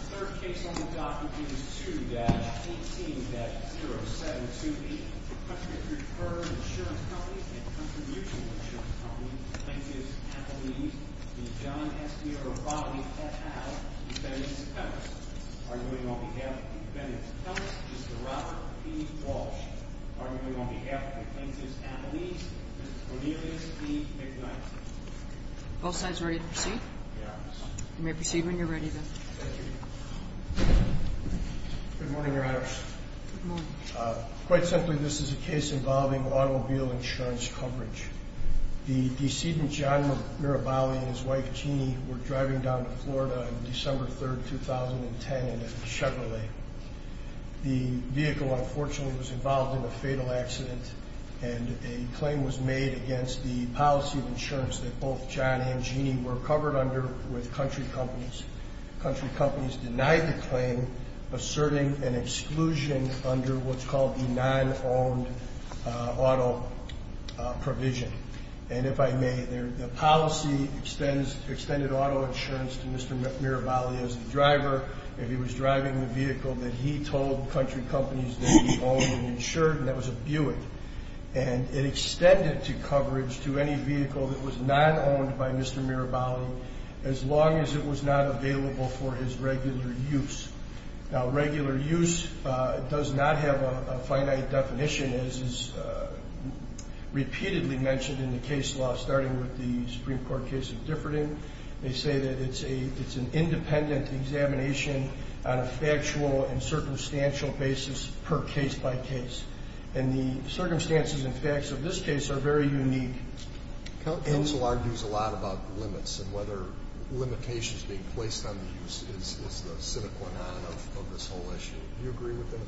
The third case on the docket is 2-18-0728. The country's preferred insurance company and contribution insurance company plaintiff's appellees, the John S. Miroballi et al, defendants' appellants. Arguing on behalf of the defendants' appellants, Mr. Robert P. Walsh. Arguing on behalf of the plaintiffs' appellees, Mr. Cornelius E. McKnight. Both sides ready to proceed? Yes. You may proceed when you're ready, then. Thank you. Good morning, Your Honors. Good morning. Quite simply, this is a case involving automobile insurance coverage. The decedent, John Miroballi, and his wife, Jeannie, were driving down to Florida on December 3, 2010 in a Chevrolet. The vehicle, unfortunately, was involved in a fatal accident, and a claim was made against the policy of insurance that both John and Jeannie were covered under with country companies. Country companies denied the claim, asserting an exclusion under what's called the non-owned auto provision. And if I may, the policy extended auto insurance to Mr. Miroballi as the driver, and he was driving the vehicle that he told country companies that he owned and insured, and that was a Buick. And it extended to coverage to any vehicle that was non-owned by Mr. Miroballi, as long as it was not available for his regular use. Now, regular use does not have a finite definition, as is repeatedly mentioned in the case law, starting with the Supreme Court case of Differding. They say that it's an independent examination on a factual and circumstantial basis per case by case. And the circumstances and facts of this case are very unique. Counsel argues a lot about limits and whether limitations being placed on the use is the cynical non of this whole issue. Do you agree with that?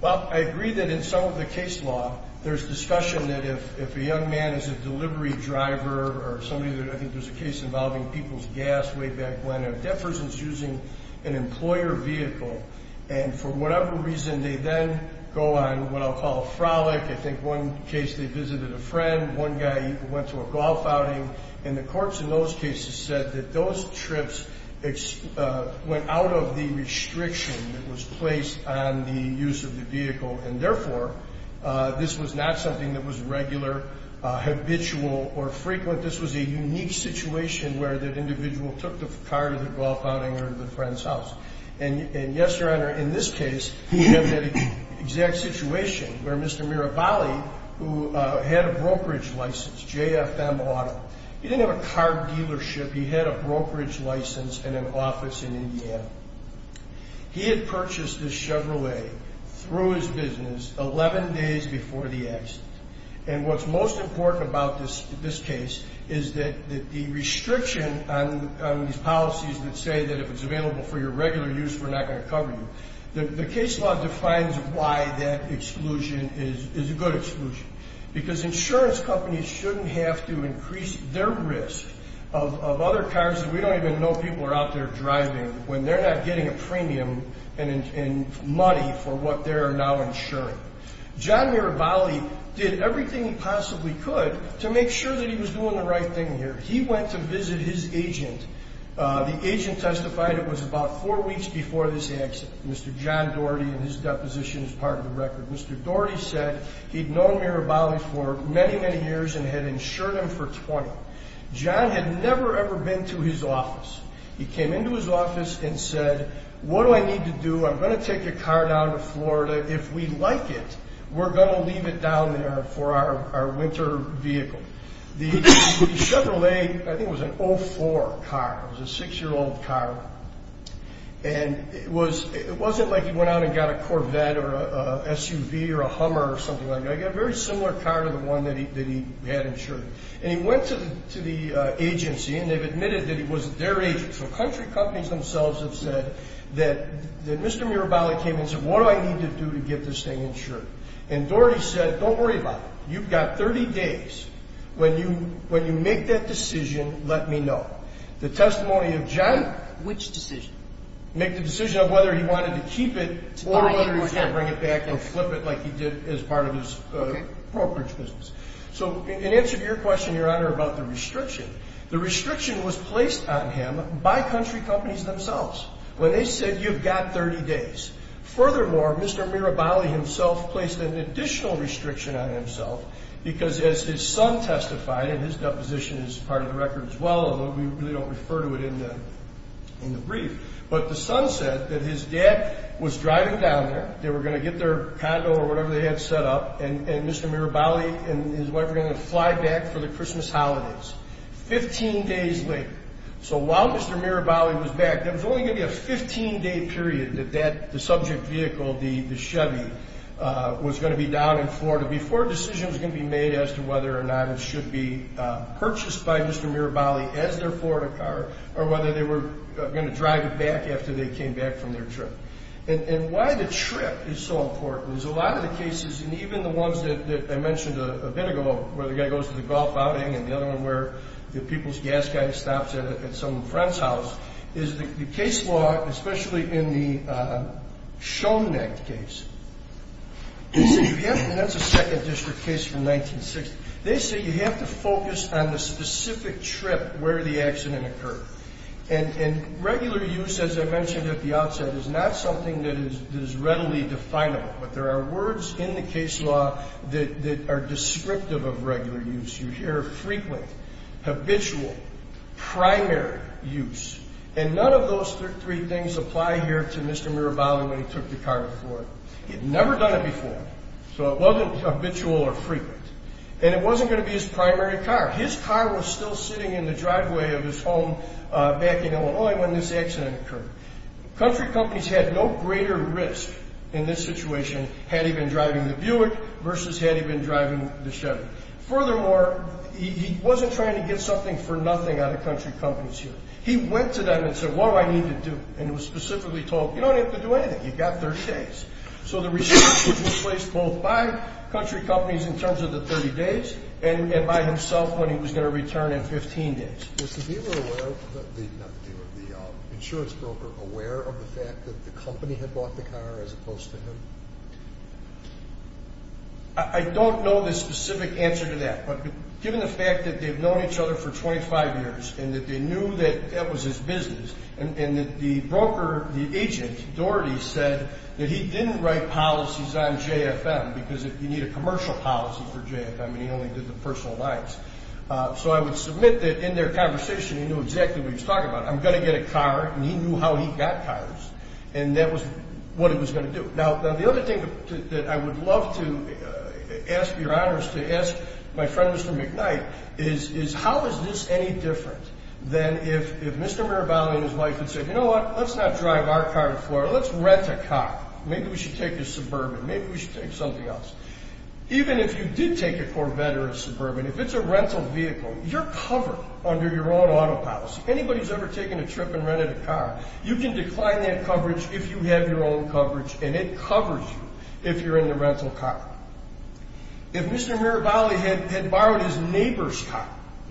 Well, I agree that in some of the case law, there's discussion that if a young man is a delivery driver or somebody that I think there's a case involving people's gas way back when, Defferson's using an employer vehicle, and for whatever reason, they then go on what I'll call a frolic. I think one case they visited a friend. One guy went to a golf outing. And the courts in those cases said that those trips went out of the restriction that was placed on the use of the vehicle, and therefore, this was not something that was regular, habitual, or frequent. This was a unique situation where that individual took the car to the golf outing or the friend's house. And, yes, Your Honor, in this case, we have that exact situation where Mr. Mirabali, who had a brokerage license, J.F.M. Auto. He didn't have a car dealership. He had a brokerage license and an office in Indiana. He had purchased this Chevrolet through his business 11 days before the accident. And what's most important about this case is that the restriction on these policies that say that if it's available for your regular use, we're not going to cover you, the case law defines why that exclusion is a good exclusion. Because insurance companies shouldn't have to increase their risk of other cars that we don't even know people are out there driving when they're not getting a premium in money for what they're now insuring. John Mirabali did everything he possibly could to make sure that he was doing the right thing here. He went to visit his agent. The agent testified it was about four weeks before this accident, Mr. John Doherty, and his deposition is part of the record. Mr. Doherty said he'd known Mirabali for many, many years and had insured him for 20. John had never, ever been to his office. He came into his office and said, What do I need to do? I'm going to take your car down to Florida. If we like it, we're going to leave it down there for our winter vehicle. The Chevrolet, I think it was an 04 car. It was a six-year-old car. And it wasn't like he went out and got a Corvette or a SUV or a Hummer or something like that. He got a very similar car to the one that he had insured. And he went to the agency, and they've admitted that it was their agent. So country companies themselves have said that Mr. Mirabali came and said, What do I need to do to get this thing insured? And Doherty said, Don't worry about it. You've got 30 days. When you make that decision, let me know. The testimony of John. Which decision? Make the decision of whether he wanted to keep it or whether he was going to bring it back or flip it like he did as part of his brokerage business. So in answer to your question, Your Honor, about the restriction, the restriction was placed on him by country companies themselves when they said, You've got 30 days. Furthermore, Mr. Mirabali himself placed an additional restriction on himself because, as his son testified, and his deposition is part of the record as well, although we really don't refer to it in the brief, but the son said that his dad was driving down there. They were going to get their condo or whatever they had set up, and Mr. Mirabali and his wife were going to fly back for the Christmas holidays 15 days later. So while Mr. Mirabali was back, there was only going to be a 15-day period that the subject vehicle, the Chevy, was going to be down in Florida before a decision was going to be made as to whether or not it should be purchased by Mr. Mirabali as their Florida car or whether they were going to drive it back after they came back from their trip. And why the trip is so important is a lot of the cases, and even the ones that I mentioned a bit ago, where the guy goes to the golf outing and the other one where the people's gas guy stops at some friend's house, is the case law, especially in the Shone Act case. That's a 2nd District case from 1960. They say you have to focus on the specific trip where the accident occurred. And regular use, as I mentioned at the outset, is not something that is readily definable. But there are words in the case law that are descriptive of regular use. You hear frequent, habitual, primary use. And none of those three things apply here to Mr. Mirabali when he took the car to Florida. He had never done it before, so it wasn't habitual or frequent. And it wasn't going to be his primary car. His car was still sitting in the driveway of his home back in Illinois when this accident occurred. Country companies had no greater risk in this situation had he been driving the Buick versus had he been driving the Chevy. Furthermore, he wasn't trying to get something for nothing out of country companies here. He went to them and said, what do I need to do? And he was specifically told, you don't have to do anything. You've got 30 days. So the responsibility was placed both by country companies in terms of the 30 days and by himself when he was going to return in 15 days. I don't know the specific answer to that. But given the fact that they've known each other for 25 years and that they knew that that was his business and that the broker, the agent, Doherty, said that he didn't write policies on J.F.M. because you need a commercial policy for J.F.M. and he only did the personal lines. So I would submit that in their conversation he knew exactly what he was talking about. I'm going to get a car, and he knew how he got cars. And that was what he was going to do. Now, the other thing that I would love to ask Your Honor is to ask my friend Mr. McKnight is how is this any different than if Mr. Mirabali and his wife had said, you know what, let's not drive our car to Florida. Let's rent a car. Maybe we should take a Suburban. Maybe we should take something else. Even if you did take a Corvette or a Suburban, if it's a rental vehicle, you're covered under your own auto policy. If anybody's ever taken a trip and rented a car, you can decline that coverage if you have your own coverage. And it covers you if you're in the rental car. If Mr. Mirabali had borrowed his neighbor's car.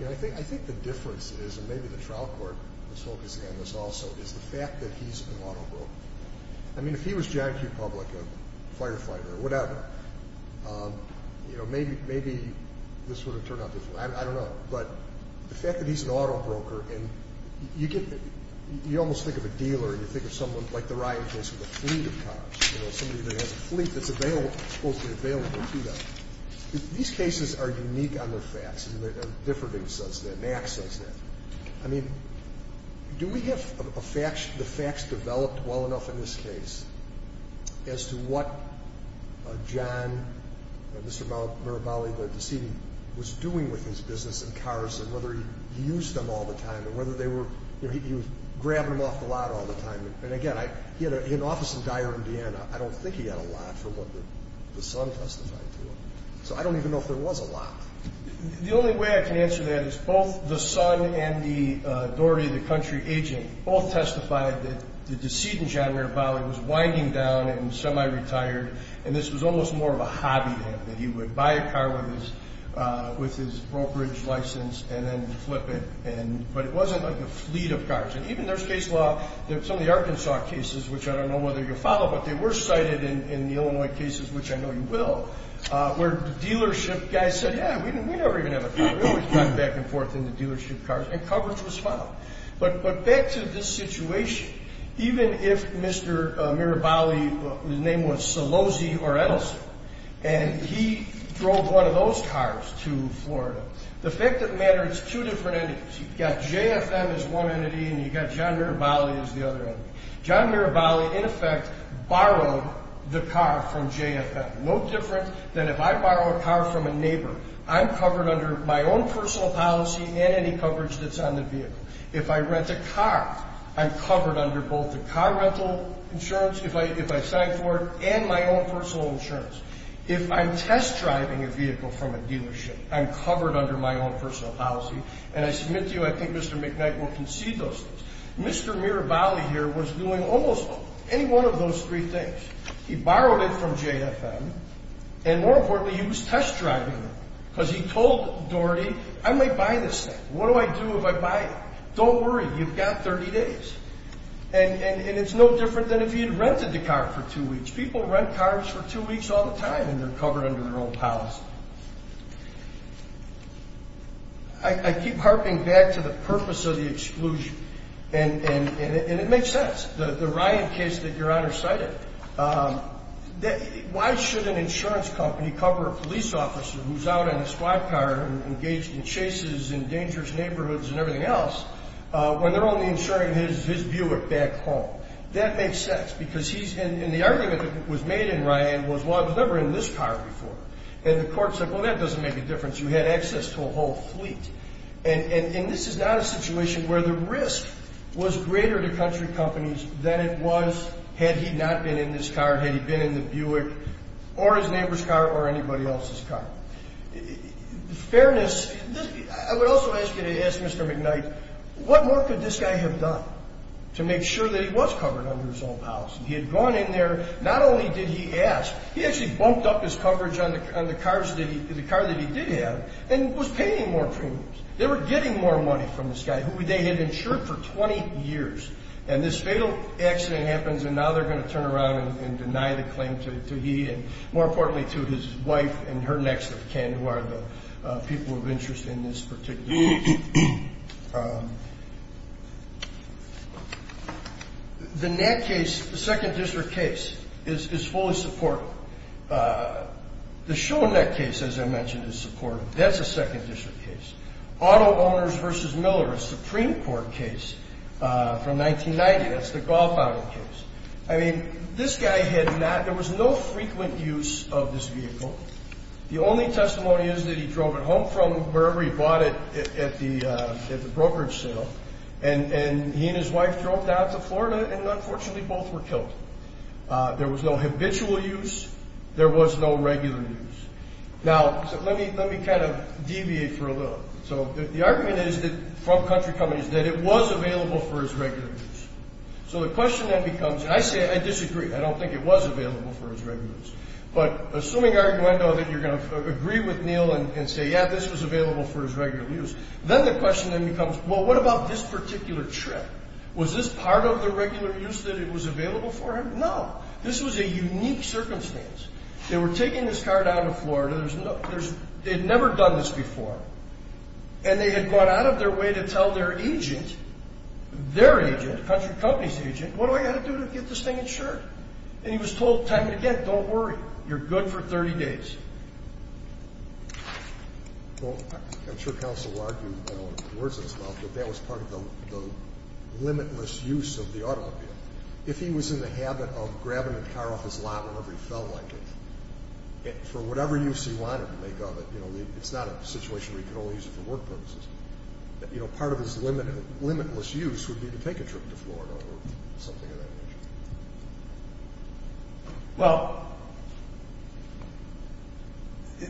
I think the difference is, and maybe the trial court was focusing on this also, is the fact that he's an auto broker. I mean, if he was John Q. Public, a firefighter or whatever, maybe this would have turned out different. I don't know. But the fact that he's an auto broker, you almost think of a dealer. You think of someone like the Ryan case with a fleet of cars. You know, somebody that has a fleet that's supposed to be available to them. These cases are unique on the facts. Differding says that. Max says that. I mean, do we have the facts developed well enough in this case as to what John, Mr. Mirabali, the decedent, was doing with his business and cars and whether he used them all the time or whether they were, you know, he was grabbing them off the lot all the time. And again, he had an office in Dyer, Indiana. I don't think he had a lot for what the son testified to. So I don't even know if there was a lot. The only way I can answer that is both the son and the Daugherty, the country agent, both testified that the decedent, John Mirabali, was winding down and semi-retired, and this was almost more of a hobby that he would buy a car with his brokerage license and then flip it. But it wasn't like a fleet of cars. And even there's case law, some of the Arkansas cases, which I don't know whether you'll follow, but they were cited in the Illinois cases, which I know you will, where dealership guys said, yeah, we never even have a car. We always drive back and forth in the dealership cars, and coverage was filed. But back to this situation, even if Mr. Mirabali, his name was Salosi or Edison, and he drove one of those cars to Florida, the fact of the matter is it's two different entities. You've got JFM as one entity and you've got John Mirabali as the other entity. John Mirabali, in effect, borrowed the car from JFM. No different than if I borrow a car from a neighbor, I'm covered under my own personal policy and any coverage that's on the vehicle. If I rent a car, I'm covered under both the car rental insurance, if I sign for it, and my own personal insurance. If I'm test driving a vehicle from a dealership, I'm covered under my own personal policy, and I submit to you I think Mr. McKnight will concede those things. Mr. Mirabali here was doing almost any one of those three things. He borrowed it from JFM, and more importantly, he was test driving it because he told Doherty, I might buy this thing. What do I do if I buy it? Don't worry, you've got 30 days. And it's no different than if he had rented the car for two weeks. People rent cars for two weeks all the time and they're covered under their own policy. I keep harping back to the purpose of the exclusion, and it makes sense. The Ryan case that Your Honor cited, why should an insurance company cover a police officer who's out on a squad car and engaged in chases in dangerous neighborhoods and everything else when they're only insuring his Buick back home? That makes sense because he's in the argument that was made in Ryan was, well, I was never in this car before. And the court said, well, that doesn't make a difference. You had access to a whole fleet. And this is not a situation where the risk was greater to country companies than it was had he not been in this car, had he been in the Buick or his neighbor's car or anybody else's car. In fairness, I would also ask you to ask Mr. McKnight, what more could this guy have done to make sure that he was covered under his own policy? He had gone in there, not only did he ask, he actually bumped up his coverage on the car that he did have and was paying more premiums. They were getting more money from this guy who they had insured for 20 years. And this fatal accident happens, and now they're going to turn around and deny the claim to he and, more importantly, to his wife and her next of kin who are the people of interest in this particular case. I mean, the NAC case, the Second District case, is fully supported. The Schoenach case, as I mentioned, is supported. That's a Second District case. Auto Owners v. Miller, a Supreme Court case from 1990, that's the golf-outing case. I mean, this guy had not – there was no frequent use of this vehicle. The only testimony is that he drove it home from wherever he bought it at the brokerage sale, and he and his wife drove down to Florida and, unfortunately, both were killed. There was no habitual use. There was no regular use. Now, let me kind of deviate for a little. So the argument from country companies is that it was available for his regular use. So the question then becomes – and I disagree. I don't think it was available for his regular use. But assuming, arguendo, that you're going to agree with Neil and say, yeah, this was available for his regular use, then the question then becomes, well, what about this particular trip? Was this part of the regular use that was available for him? No. This was a unique circumstance. They were taking this car down to Florida. They had never done this before, and they had gone out of their way to tell their agent, their agent, the country company's agent, what do I got to do to get this thing insured? And he was told time and again, don't worry. You're good for 30 days. Well, I'm sure counsel will argue in words of his mouth that that was part of the limitless use of the automobile. If he was in the habit of grabbing a car off his lot whenever he felt like it, for whatever use he wanted to make of it, it's not a situation where he could only use it for work purposes. Part of his limitless use would be to take a trip to Florida or something of that nature. Well,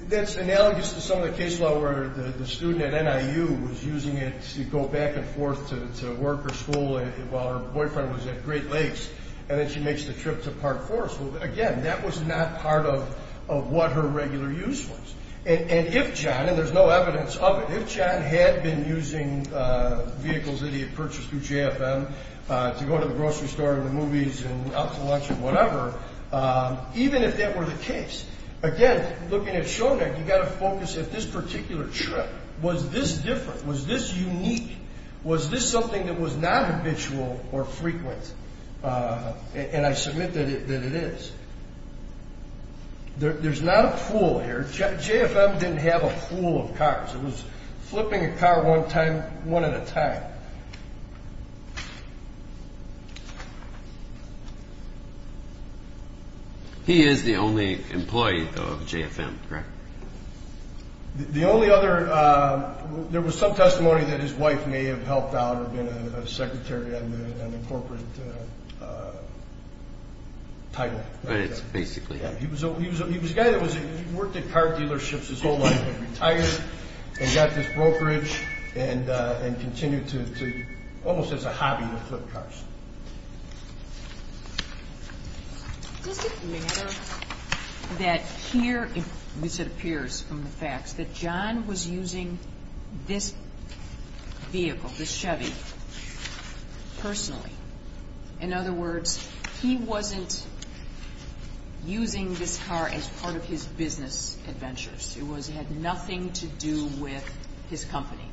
that's analogous to some of the case law where the student at NIU was using it to go back and forth to work or school while her boyfriend was at Great Lakes, and then she makes the trip to Park Forest. Well, again, that was not part of what her regular use was. And if John, and there's no evidence of it, if John had been using vehicles that he had purchased through JFM to go to the grocery store or the movies and out to lunch or whatever, even if that were the case, again, looking at Shodack, you've got to focus at this particular trip. Was this different? Was this unique? Was this something that was not habitual or frequent? And I submit that it is. There's not a pool here. JFM didn't have a pool of cars. It was flipping a car one at a time. He is the only employee of JFM, correct? The only other... There was some testimony that his wife may have helped out or been a secretary on the corporate title. But it's basically him. He was a guy that worked at car dealerships his whole life, but retired and got this brokerage and continued to almost as a hobby to flip cars. Does it matter that here, as it appears from the facts, that John was using this vehicle, this Chevy, personally? In other words, he wasn't using this car as part of his business adventures. It had nothing to do with his company.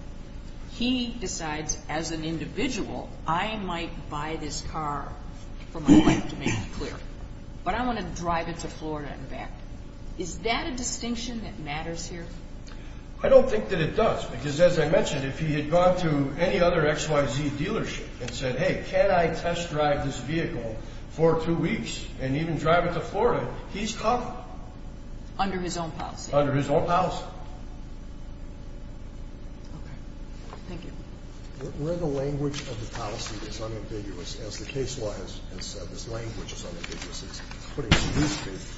He decides, as an individual, I might buy this car for my wife to make it clear, but I want to drive it to Florida and back. Is that a distinction that matters here? I don't think that it does because, as I mentioned, if he had gone to any other XYZ dealership and said, hey, can I test drive this vehicle for two weeks and even drive it to Florida, he's talking. Under his own policy. Under his own policy. Okay. Thank you. Where the language of the policy is unambiguous, as the case law has said, this language is unambiguous. It's putting it to use cases.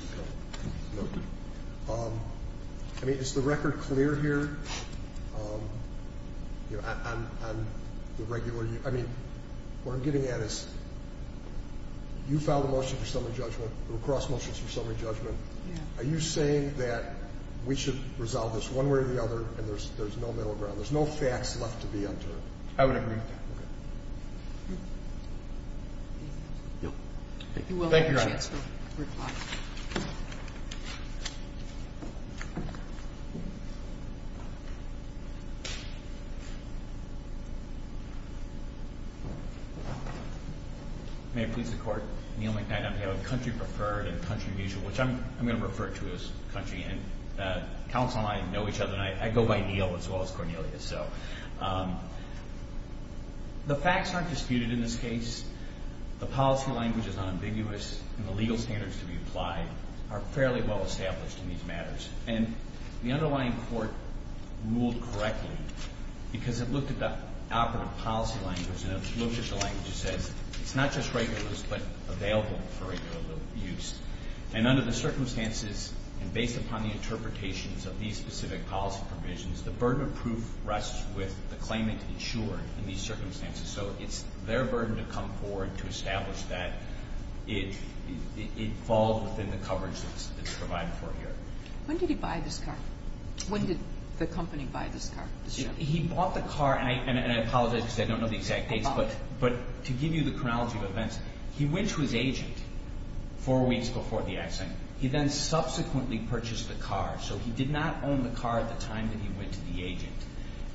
I mean, is the record clear here? I mean, what I'm getting at is you filed a motion for summary judgment. There were cross motions for summary judgment. Are you saying that we should resolve this one way or the other and there's no middle ground? There's no facts left to be entered. I would agree with that. Thank you, Your Honor. You will have a chance to reply. May it please the Court. Neil McKnight on behalf of Country Preferred and Country of Usual, which I'm going to refer to as country. And counsel and I know each other, and I go by Neil as well as Cornelia. The facts aren't disputed in this case. The policy language is unambiguous, and the legal standards to be applied are fairly well established in these matters. And the underlying court ruled correctly because it looked at the operative policy language and it looked at the language that says it's not just regular use but available for regular use. And under the circumstances and based upon the interpretations of these specific policy provisions, the burden of proof rests with the claimant insured in these circumstances. So it's their burden to come forward to establish that it falls within the coverage that's provided for here. When did he buy this car? When did the company buy this car? He bought the car, and I apologize because I don't know the exact dates, but to give you the chronology of events, he went to his agent four weeks before the accident. He then subsequently purchased the car. So he did not own the car at the time that he went to the agent.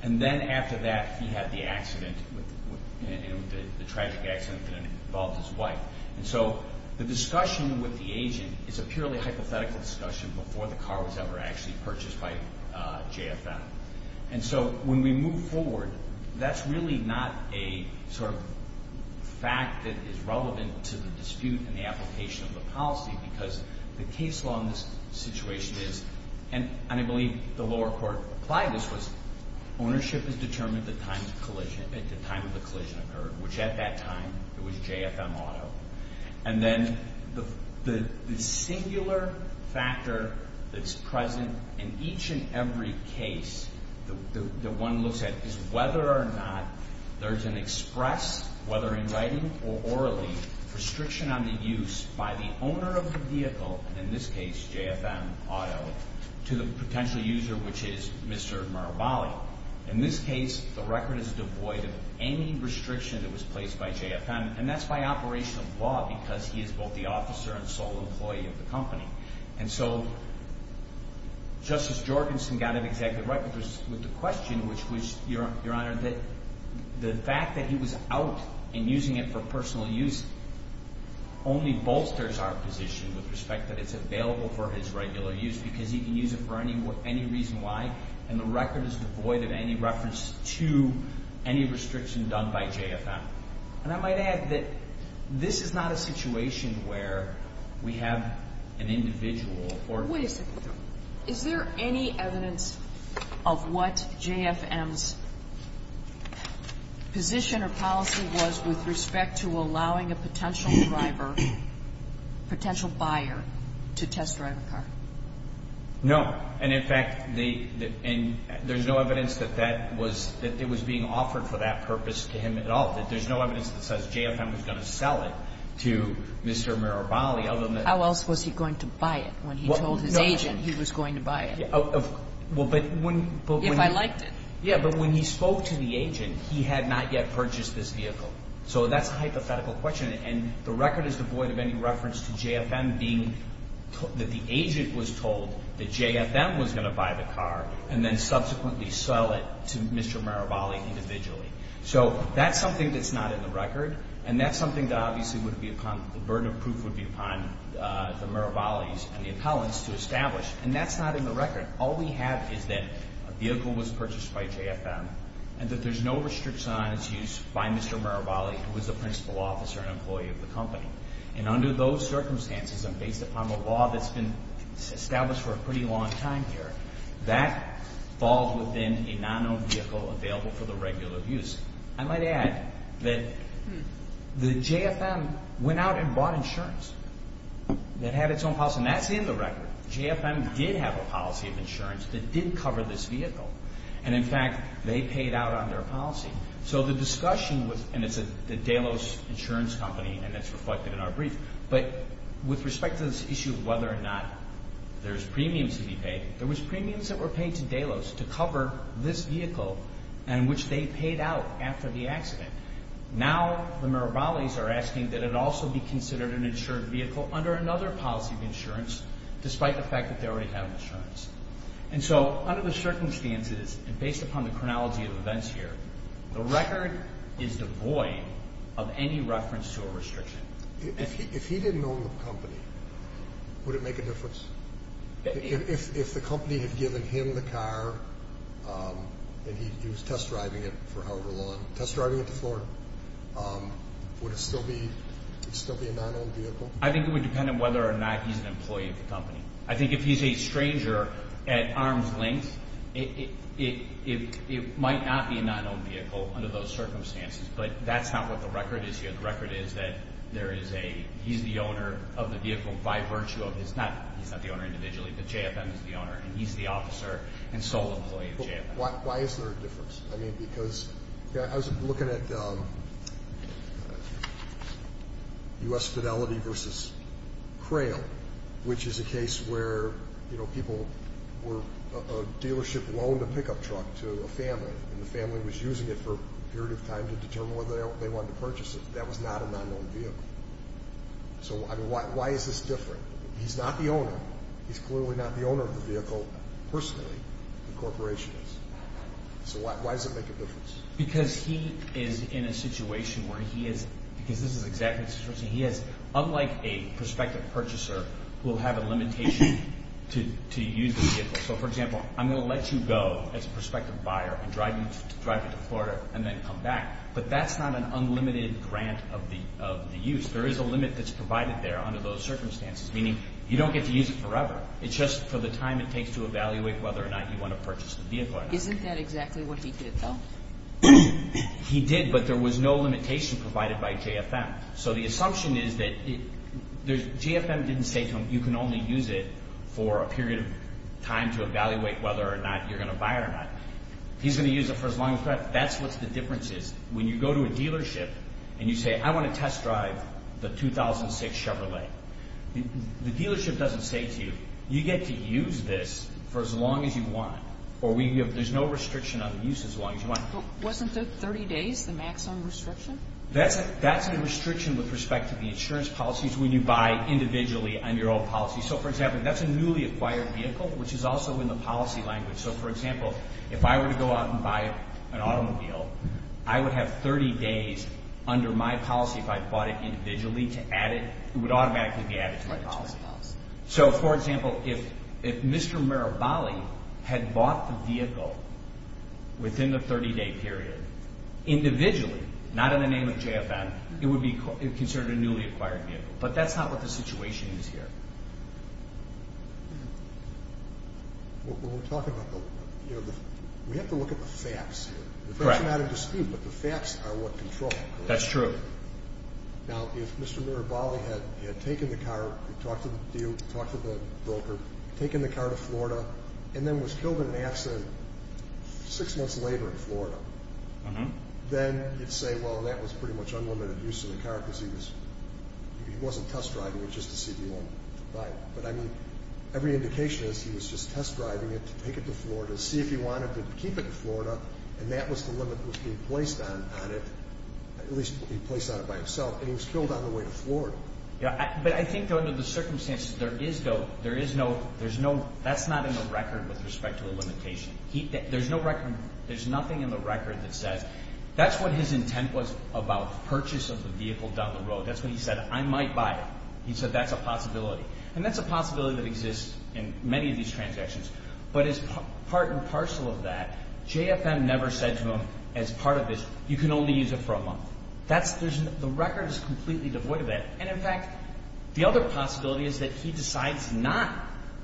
And then after that, he had the accident, the tragic accident that involved his wife. And so the discussion with the agent is a purely hypothetical discussion before the car was ever actually purchased by JFM. And so when we move forward, that's really not a sort of fact that is relevant to the dispute and the application of the policy because the case law in this situation is, and I believe the lower court applied this, was ownership is determined at the time of the collision occurred, which at that time it was JFM Auto. And then the singular factor that's present in each and every case that one looks at is whether or not there's an express, whether in writing or orally, restriction on the use by the owner of the vehicle, and in this case JFM Auto, to the potential user, which is Mr. Marabali. In this case, the record is devoid of any restriction that was placed by JFM, and that's by operation of law because he is both the officer and sole employee of the company. And so Justice Jorgensen got it exactly right with the question, which was, Your Honor, that the fact that he was out and using it for personal use only bolsters our position with respect that it's available for his regular use because he can use it for any reason why, and the record is devoid of any reference to any restriction done by JFM. And I might add that this is not a situation where we have an individual or... Wait a second. Is there any evidence of what JFM's position or policy was with respect to allowing a potential driver, potential buyer to test drive a car? No, and in fact, there's no evidence that that was, that it was being offered for that purpose to him at all. There's no evidence that says JFM was going to sell it to Mr. Mirabali other than... How else was he going to buy it when he told his agent he was going to buy it? Well, but when... If I liked it. Yeah, but when he spoke to the agent, he had not yet purchased this vehicle. So that's a hypothetical question, and the record is devoid of any reference to JFM being, that the agent was told that JFM was going to buy the car and then subsequently sell it to Mr. Mirabali individually. So that's something that's not in the record, and that's something that obviously would be upon, the burden of proof would be upon the Mirabalis and the appellants to establish, and that's not in the record. All we have is that a vehicle was purchased by JFM and that there's no restrictions on its use by Mr. Mirabali, who was the principal officer and employee of the company. And under those circumstances and based upon the law that's been established for a pretty long time here, that falls within a non-owned vehicle available for the regular use. I might add that the JFM went out and bought insurance that had its own policy, and that's in the record. JFM did have a policy of insurance that did cover this vehicle, and in fact, they paid out on their policy. So the discussion was, and it's the Delos Insurance Company, and that's reflected in our brief, but with respect to this issue of whether or not there's premiums to be paid, there was premiums that were paid to Delos to cover this vehicle and which they paid out after the accident. Now the Mirabalis are asking that it also be considered an insured vehicle under another policy of insurance despite the fact that they already have insurance. And so under the circumstances and based upon the chronology of events here, the record is devoid of any reference to a restriction. If he didn't own the company, would it make a difference? If the company had given him the car and he was test driving it for however long, test driving it to Florida, would it still be a non-owned vehicle? I think it would depend on whether or not he's an employee of the company. I think if he's a stranger at arm's length, it might not be a non-owned vehicle under those circumstances, but that's not what the record is here. I think the record is that there is a, he's the owner of the vehicle by virtue of, he's not the owner individually, but JFM is the owner, and he's the officer and sole employee of JFM. Why is there a difference? I mean, because I was looking at U.S. Fidelity versus Crail, which is a case where people were, a dealership loaned a pickup truck to a family, and the family was using it for a period of time to determine whether they wanted to purchase it. That was not a non-owned vehicle. So, I mean, why is this different? He's not the owner. He's clearly not the owner of the vehicle personally, the corporation is. So why does it make a difference? Because he is in a situation where he is, because this is exactly the situation he is, unlike a prospective purchaser who will have a limitation to use the vehicle. So, for example, I'm going to let you go as a prospective buyer and drive you to Florida and then come back. But that's not an unlimited grant of the use. There is a limit that's provided there under those circumstances, meaning you don't get to use it forever. It's just for the time it takes to evaluate whether or not you want to purchase the vehicle or not. Isn't that exactly what he did, though? He did, but there was no limitation provided by JFM. So the assumption is that JFM didn't say to him, you can only use it for a period of time to evaluate whether or not you're going to buy it or not. He's going to use it for as long as you want. That's what the difference is. When you go to a dealership and you say, I want to test drive the 2006 Chevrolet, the dealership doesn't say to you, you get to use this for as long as you want, or there's no restriction on the use as long as you want. Wasn't 30 days the maximum restriction? That's a restriction with respect to the insurance policies when you buy individually on your own policy. So, for example, that's a newly acquired vehicle, which is also in the policy language. So, for example, if I were to go out and buy an automobile, I would have 30 days under my policy if I bought it individually to add it. It would automatically be added to my policy. So, for example, if Mr. Mirabali had bought the vehicle within the 30-day period individually, not in the name of JFM, it would be considered a newly acquired vehicle. But that's not what the situation is here. We have to look at the facts here. It's not a dispute, but the facts are what control. That's true. Now, if Mr. Mirabali had taken the car, talked to the dealer, talked to the broker, taken the car to Florida, and then was killed in an accident six months later in Florida, then you'd say, well, that was pretty much unlimited use of the car because he wasn't test driving. It was just a CD1. Right. But, I mean, every indication is he was just test driving it to take it to Florida, see if he wanted to keep it in Florida, and that was the limit he placed on it, at least he placed on it by himself, and he was killed on the way to Florida. Yeah. But I think under the circumstances, there is no – that's not in the record with respect to a limitation. There's no record – there's nothing in the record that says – that's what his intent was about the purchase of the vehicle down the road. That's when he said, I might buy it. He said that's a possibility. And that's a possibility that exists in many of these transactions. But as part and parcel of that, JFM never said to him as part of this, you can only use it for a month. That's – the record is completely devoid of that. And, in fact, the other possibility is that he decides not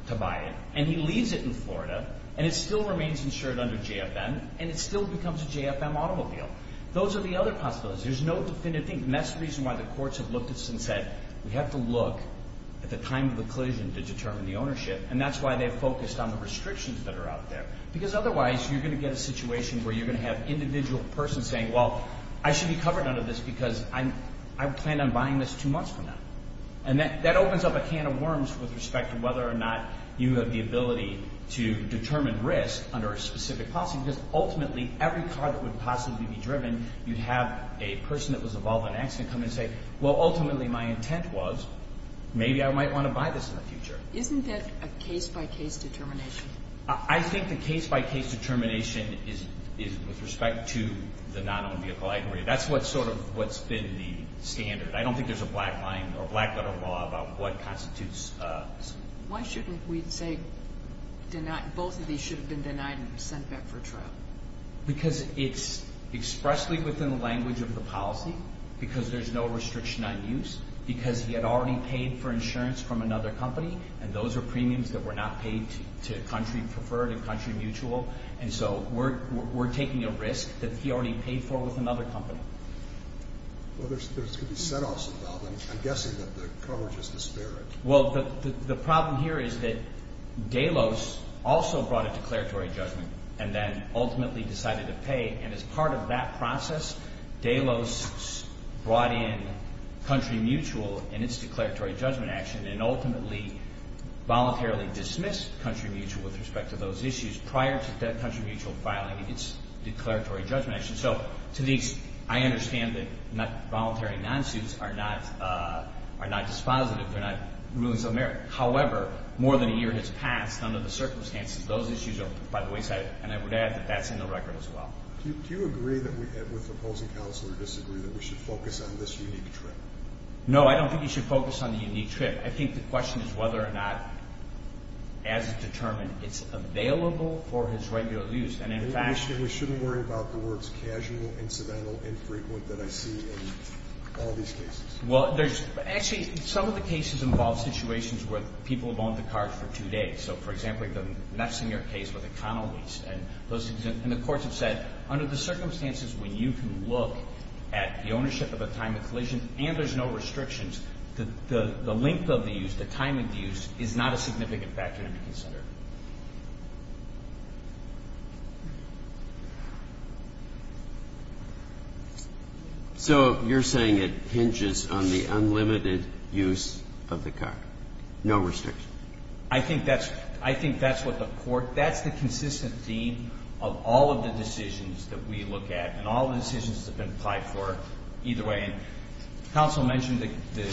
to buy it, and he leaves it in Florida, and it still remains insured under JFM, and it still becomes a JFM automobile. Those are the other possibilities. There's no definitive thing, and that's the reason why the courts have looked at this and said, we have to look at the time of the collision to determine the ownership, and that's why they focused on the restrictions that are out there. Because otherwise, you're going to get a situation where you're going to have an individual person saying, well, I should be covered under this because I plan on buying this two months from now. And that opens up a can of worms with respect to whether or not you have the ability to determine risk under a specific policy because, ultimately, every car that would possibly be driven, you'd have a person that was involved in an accident come and say, well, ultimately, my intent was maybe I might want to buy this in the future. Isn't that a case-by-case determination? I think the case-by-case determination is with respect to the non-owned vehicle aggregate. That's what's sort of what's been the standard. I don't think there's a black line or black-letter law about what constitutes. Why shouldn't we say both of these should have been denied and sent back for trial? Because it's expressly within the language of the policy because there's no restriction on use, because he had already paid for insurance from another company, and those are premiums that were not paid to country preferred and country mutual, and so we're taking a risk that he already paid for with another company. Well, there's going to be set-offs involved. I'm guessing that the coverage is disparate. Well, the problem here is that Delos also brought a declaratory judgment and then ultimately decided to pay, and as part of that process, Delos brought in country mutual in its declaratory judgment action and ultimately voluntarily dismissed country mutual with respect to those issues prior to that country mutual filing its declaratory judgment action. So to these, I understand that voluntary non-suits are not dispositive. They're not rulings of merit. However, more than a year has passed under the circumstances. Those issues are by the wayside, and I would add that that's in the record as well. Do you agree with the opposing counsel or disagree that we should focus on this unique trip? No, I don't think you should focus on the unique trip. I think the question is whether or not, as determined, it's available for his regular use. We shouldn't worry about the words casual, incidental, infrequent that I see in all these cases. Well, actually, some of the cases involve situations where people have owned the car for two days. So, for example, in the Mefcineer case with economies, and the courts have said under the circumstances when you can look at the ownership of a time of collision and there's no restrictions, the length of the use, the time of the use is not a significant factor to be considered. So you're saying it hinges on the unlimited use of the car, no restriction? I think that's what the court – that's the consistent theme of all of the decisions that we look at and all of the decisions that have been applied for either way. Counsel mentioned that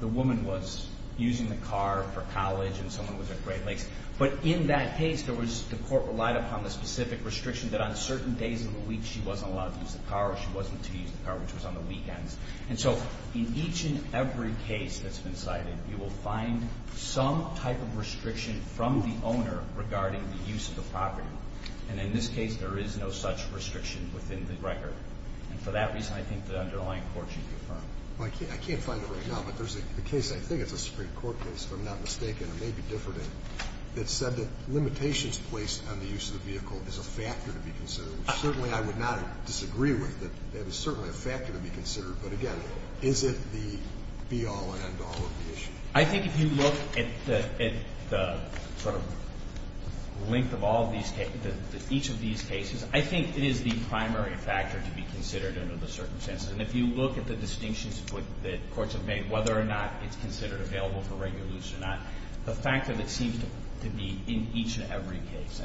the woman was using the car for college and someone was at Great Lakes. But in that case, there was – the court relied upon the specific restriction that on certain days of the week she wasn't allowed to use the car or she wasn't to use the car, which was on the weekends. And so in each and every case that's been cited, you will find some type of restriction from the owner regarding the use of the property. And in this case, there is no such restriction within the record. And for that reason, I think the underlying court should confirm. I can't find it right now, but there's a case – I think it's a Supreme Court case, if I'm not mistaken, or maybe different – that said that limitations placed on the use of the vehicle is a factor to be considered, which certainly I would not disagree with, that it is certainly a factor to be considered. But again, is it the be-all and end-all of the issue? I think if you look at the sort of length of each of these cases, I think it is the primary factor to be considered under the circumstances. And if you look at the distinctions that courts have made, whether or not it's considered available for regular use or not, the fact that it seems to be in each and every case.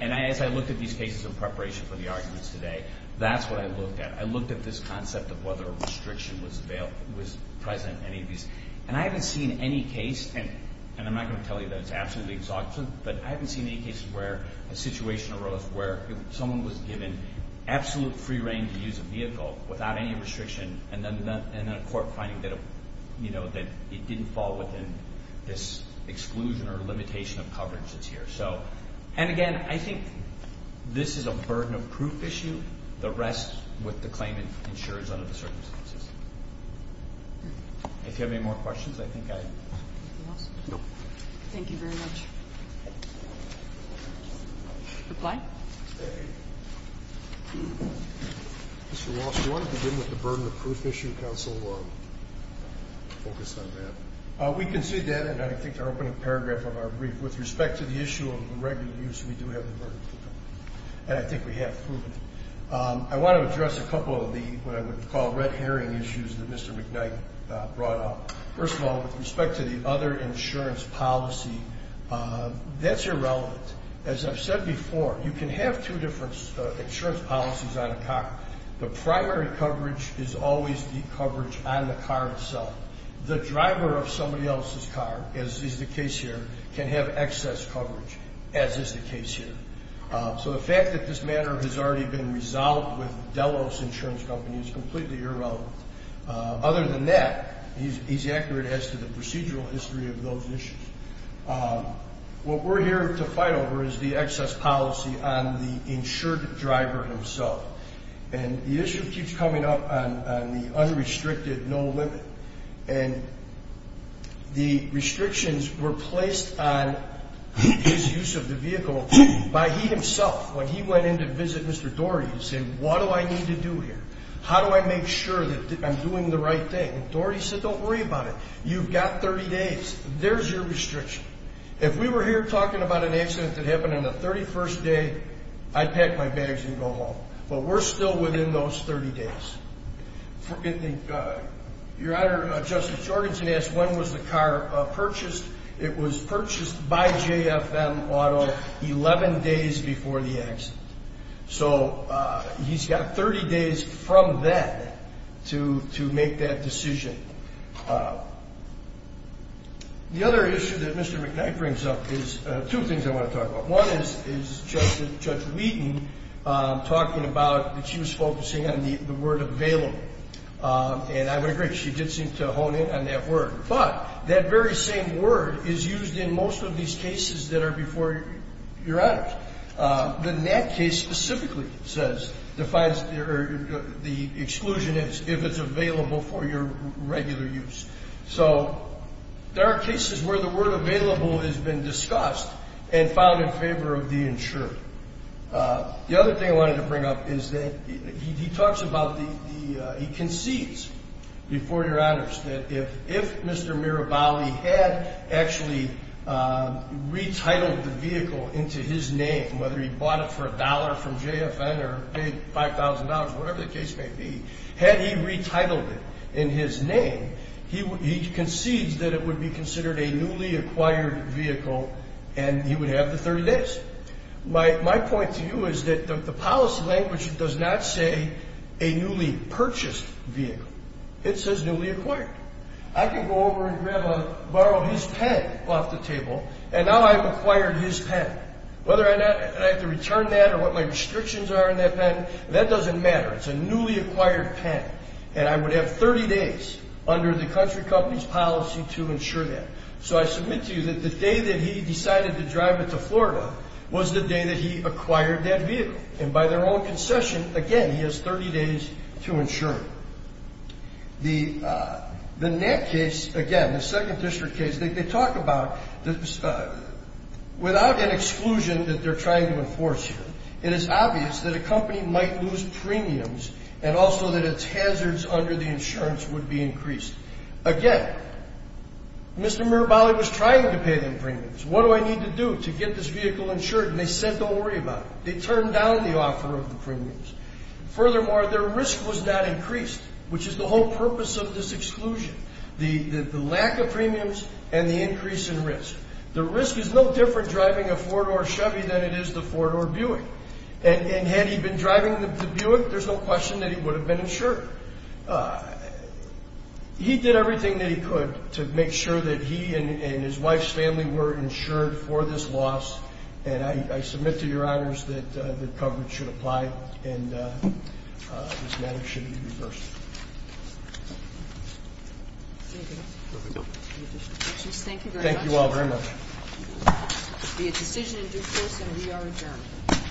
And as I looked at these cases in preparation for the arguments today, that's what I looked at. I looked at this concept of whether a restriction was present in any of these. And I haven't seen any case – and I'm not going to tell you that it's absolutely exact, but I haven't seen any cases where a situation arose where someone was given absolute free rein to use a vehicle without any restriction, and then a court finding that it didn't fall within this exclusion or limitation of coverage that's here. And again, I think this is a burden of proof issue. The rest, with the claimant, ensures under the circumstances. If you have any more questions, I think I – Anything else? No. Thank you very much. Reply. Mr. Walsh, do you want to begin with the burden of proof issue? Counsel will focus on that. We concede that, and I think to open a paragraph of our brief, with respect to the issue of regular use, we do have the burden of proof. And I think we have proven it. I want to address a couple of the – what I would call red herring issues that Mr. McKnight brought up. First of all, with respect to the other insurance policy, that's irrelevant. As I've said before, you can have two different insurance policies on a car. The primary coverage is always the coverage on the car itself. The driver of somebody else's car, as is the case here, can have excess coverage, as is the case here. So the fact that this matter has already been resolved with Delos Insurance Company is completely irrelevant. Other than that, he's accurate as to the procedural history of those issues. What we're here to fight over is the excess policy on the insured driver himself. And the issue keeps coming up on the unrestricted no limit. And the restrictions were placed on his use of the vehicle by he himself when he went in to visit Mr. Doherty and said, what do I need to do here? How do I make sure that I'm doing the right thing? And Doherty said, don't worry about it. You've got 30 days. There's your restriction. If we were here talking about an accident that happened on the 31st day, I'd pack my bags and go home. But we're still within those 30 days. Your Honor, Justice Jorgensen asked when was the car purchased. It was purchased by JFM Auto 11 days before the accident. So he's got 30 days from then to make that decision. The other issue that Mr. McKnight brings up is two things I want to talk about. One is Judge Wheaton talking about that she was focusing on the word available. And I would agree. She did seem to hone in on that word. But that very same word is used in most of these cases that are before your honors. But in that case specifically, it says, defines the exclusion as if it's available for your regular use. So there are cases where the word available has been discussed and found in favor of the insured. The other thing I wanted to bring up is that he talks about the, he concedes before your honors, that if Mr. Mirabali had actually retitled the vehicle into his name, whether he bought it for a dollar from JFN or paid $5,000, whatever the case may be, had he retitled it in his name, he concedes that it would be considered a newly acquired vehicle and he would have the 30 days. My point to you is that the policy language does not say a newly purchased vehicle. It says newly acquired. I could go over and borrow his pen off the table, and now I've acquired his pen. Whether or not I have to return that or what my restrictions are on that pen, that doesn't matter. It's a newly acquired pen, and I would have 30 days under the country company's policy to insure that. So I submit to you that the day that he decided to drive it to Florida was the day that he acquired that vehicle. And by their own concession, again, he has 30 days to insure it. The NAP case, again, the 2nd District case, they talk about, without an exclusion that they're trying to enforce here, it is obvious that a company might lose premiums and also that its hazards under the insurance would be increased. Again, Mr. Mirabali was trying to pay them premiums. What do I need to do to get this vehicle insured? And they said don't worry about it. They turned down the offer of the premiums. Furthermore, their risk was not increased, which is the whole purpose of this exclusion, the lack of premiums and the increase in risk. The risk is no different driving a four-door Chevy than it is the four-door Buick. And had he been driving the Buick, there's no question that he would have been insured. He did everything that he could to make sure that he and his wife's family were insured for this loss, and I submit to your honors that the coverage should apply and this matter should be reversed. Thank you. Any additional questions? Thank you very much. Thank you all very much. The decision is in due course and we are adjourned.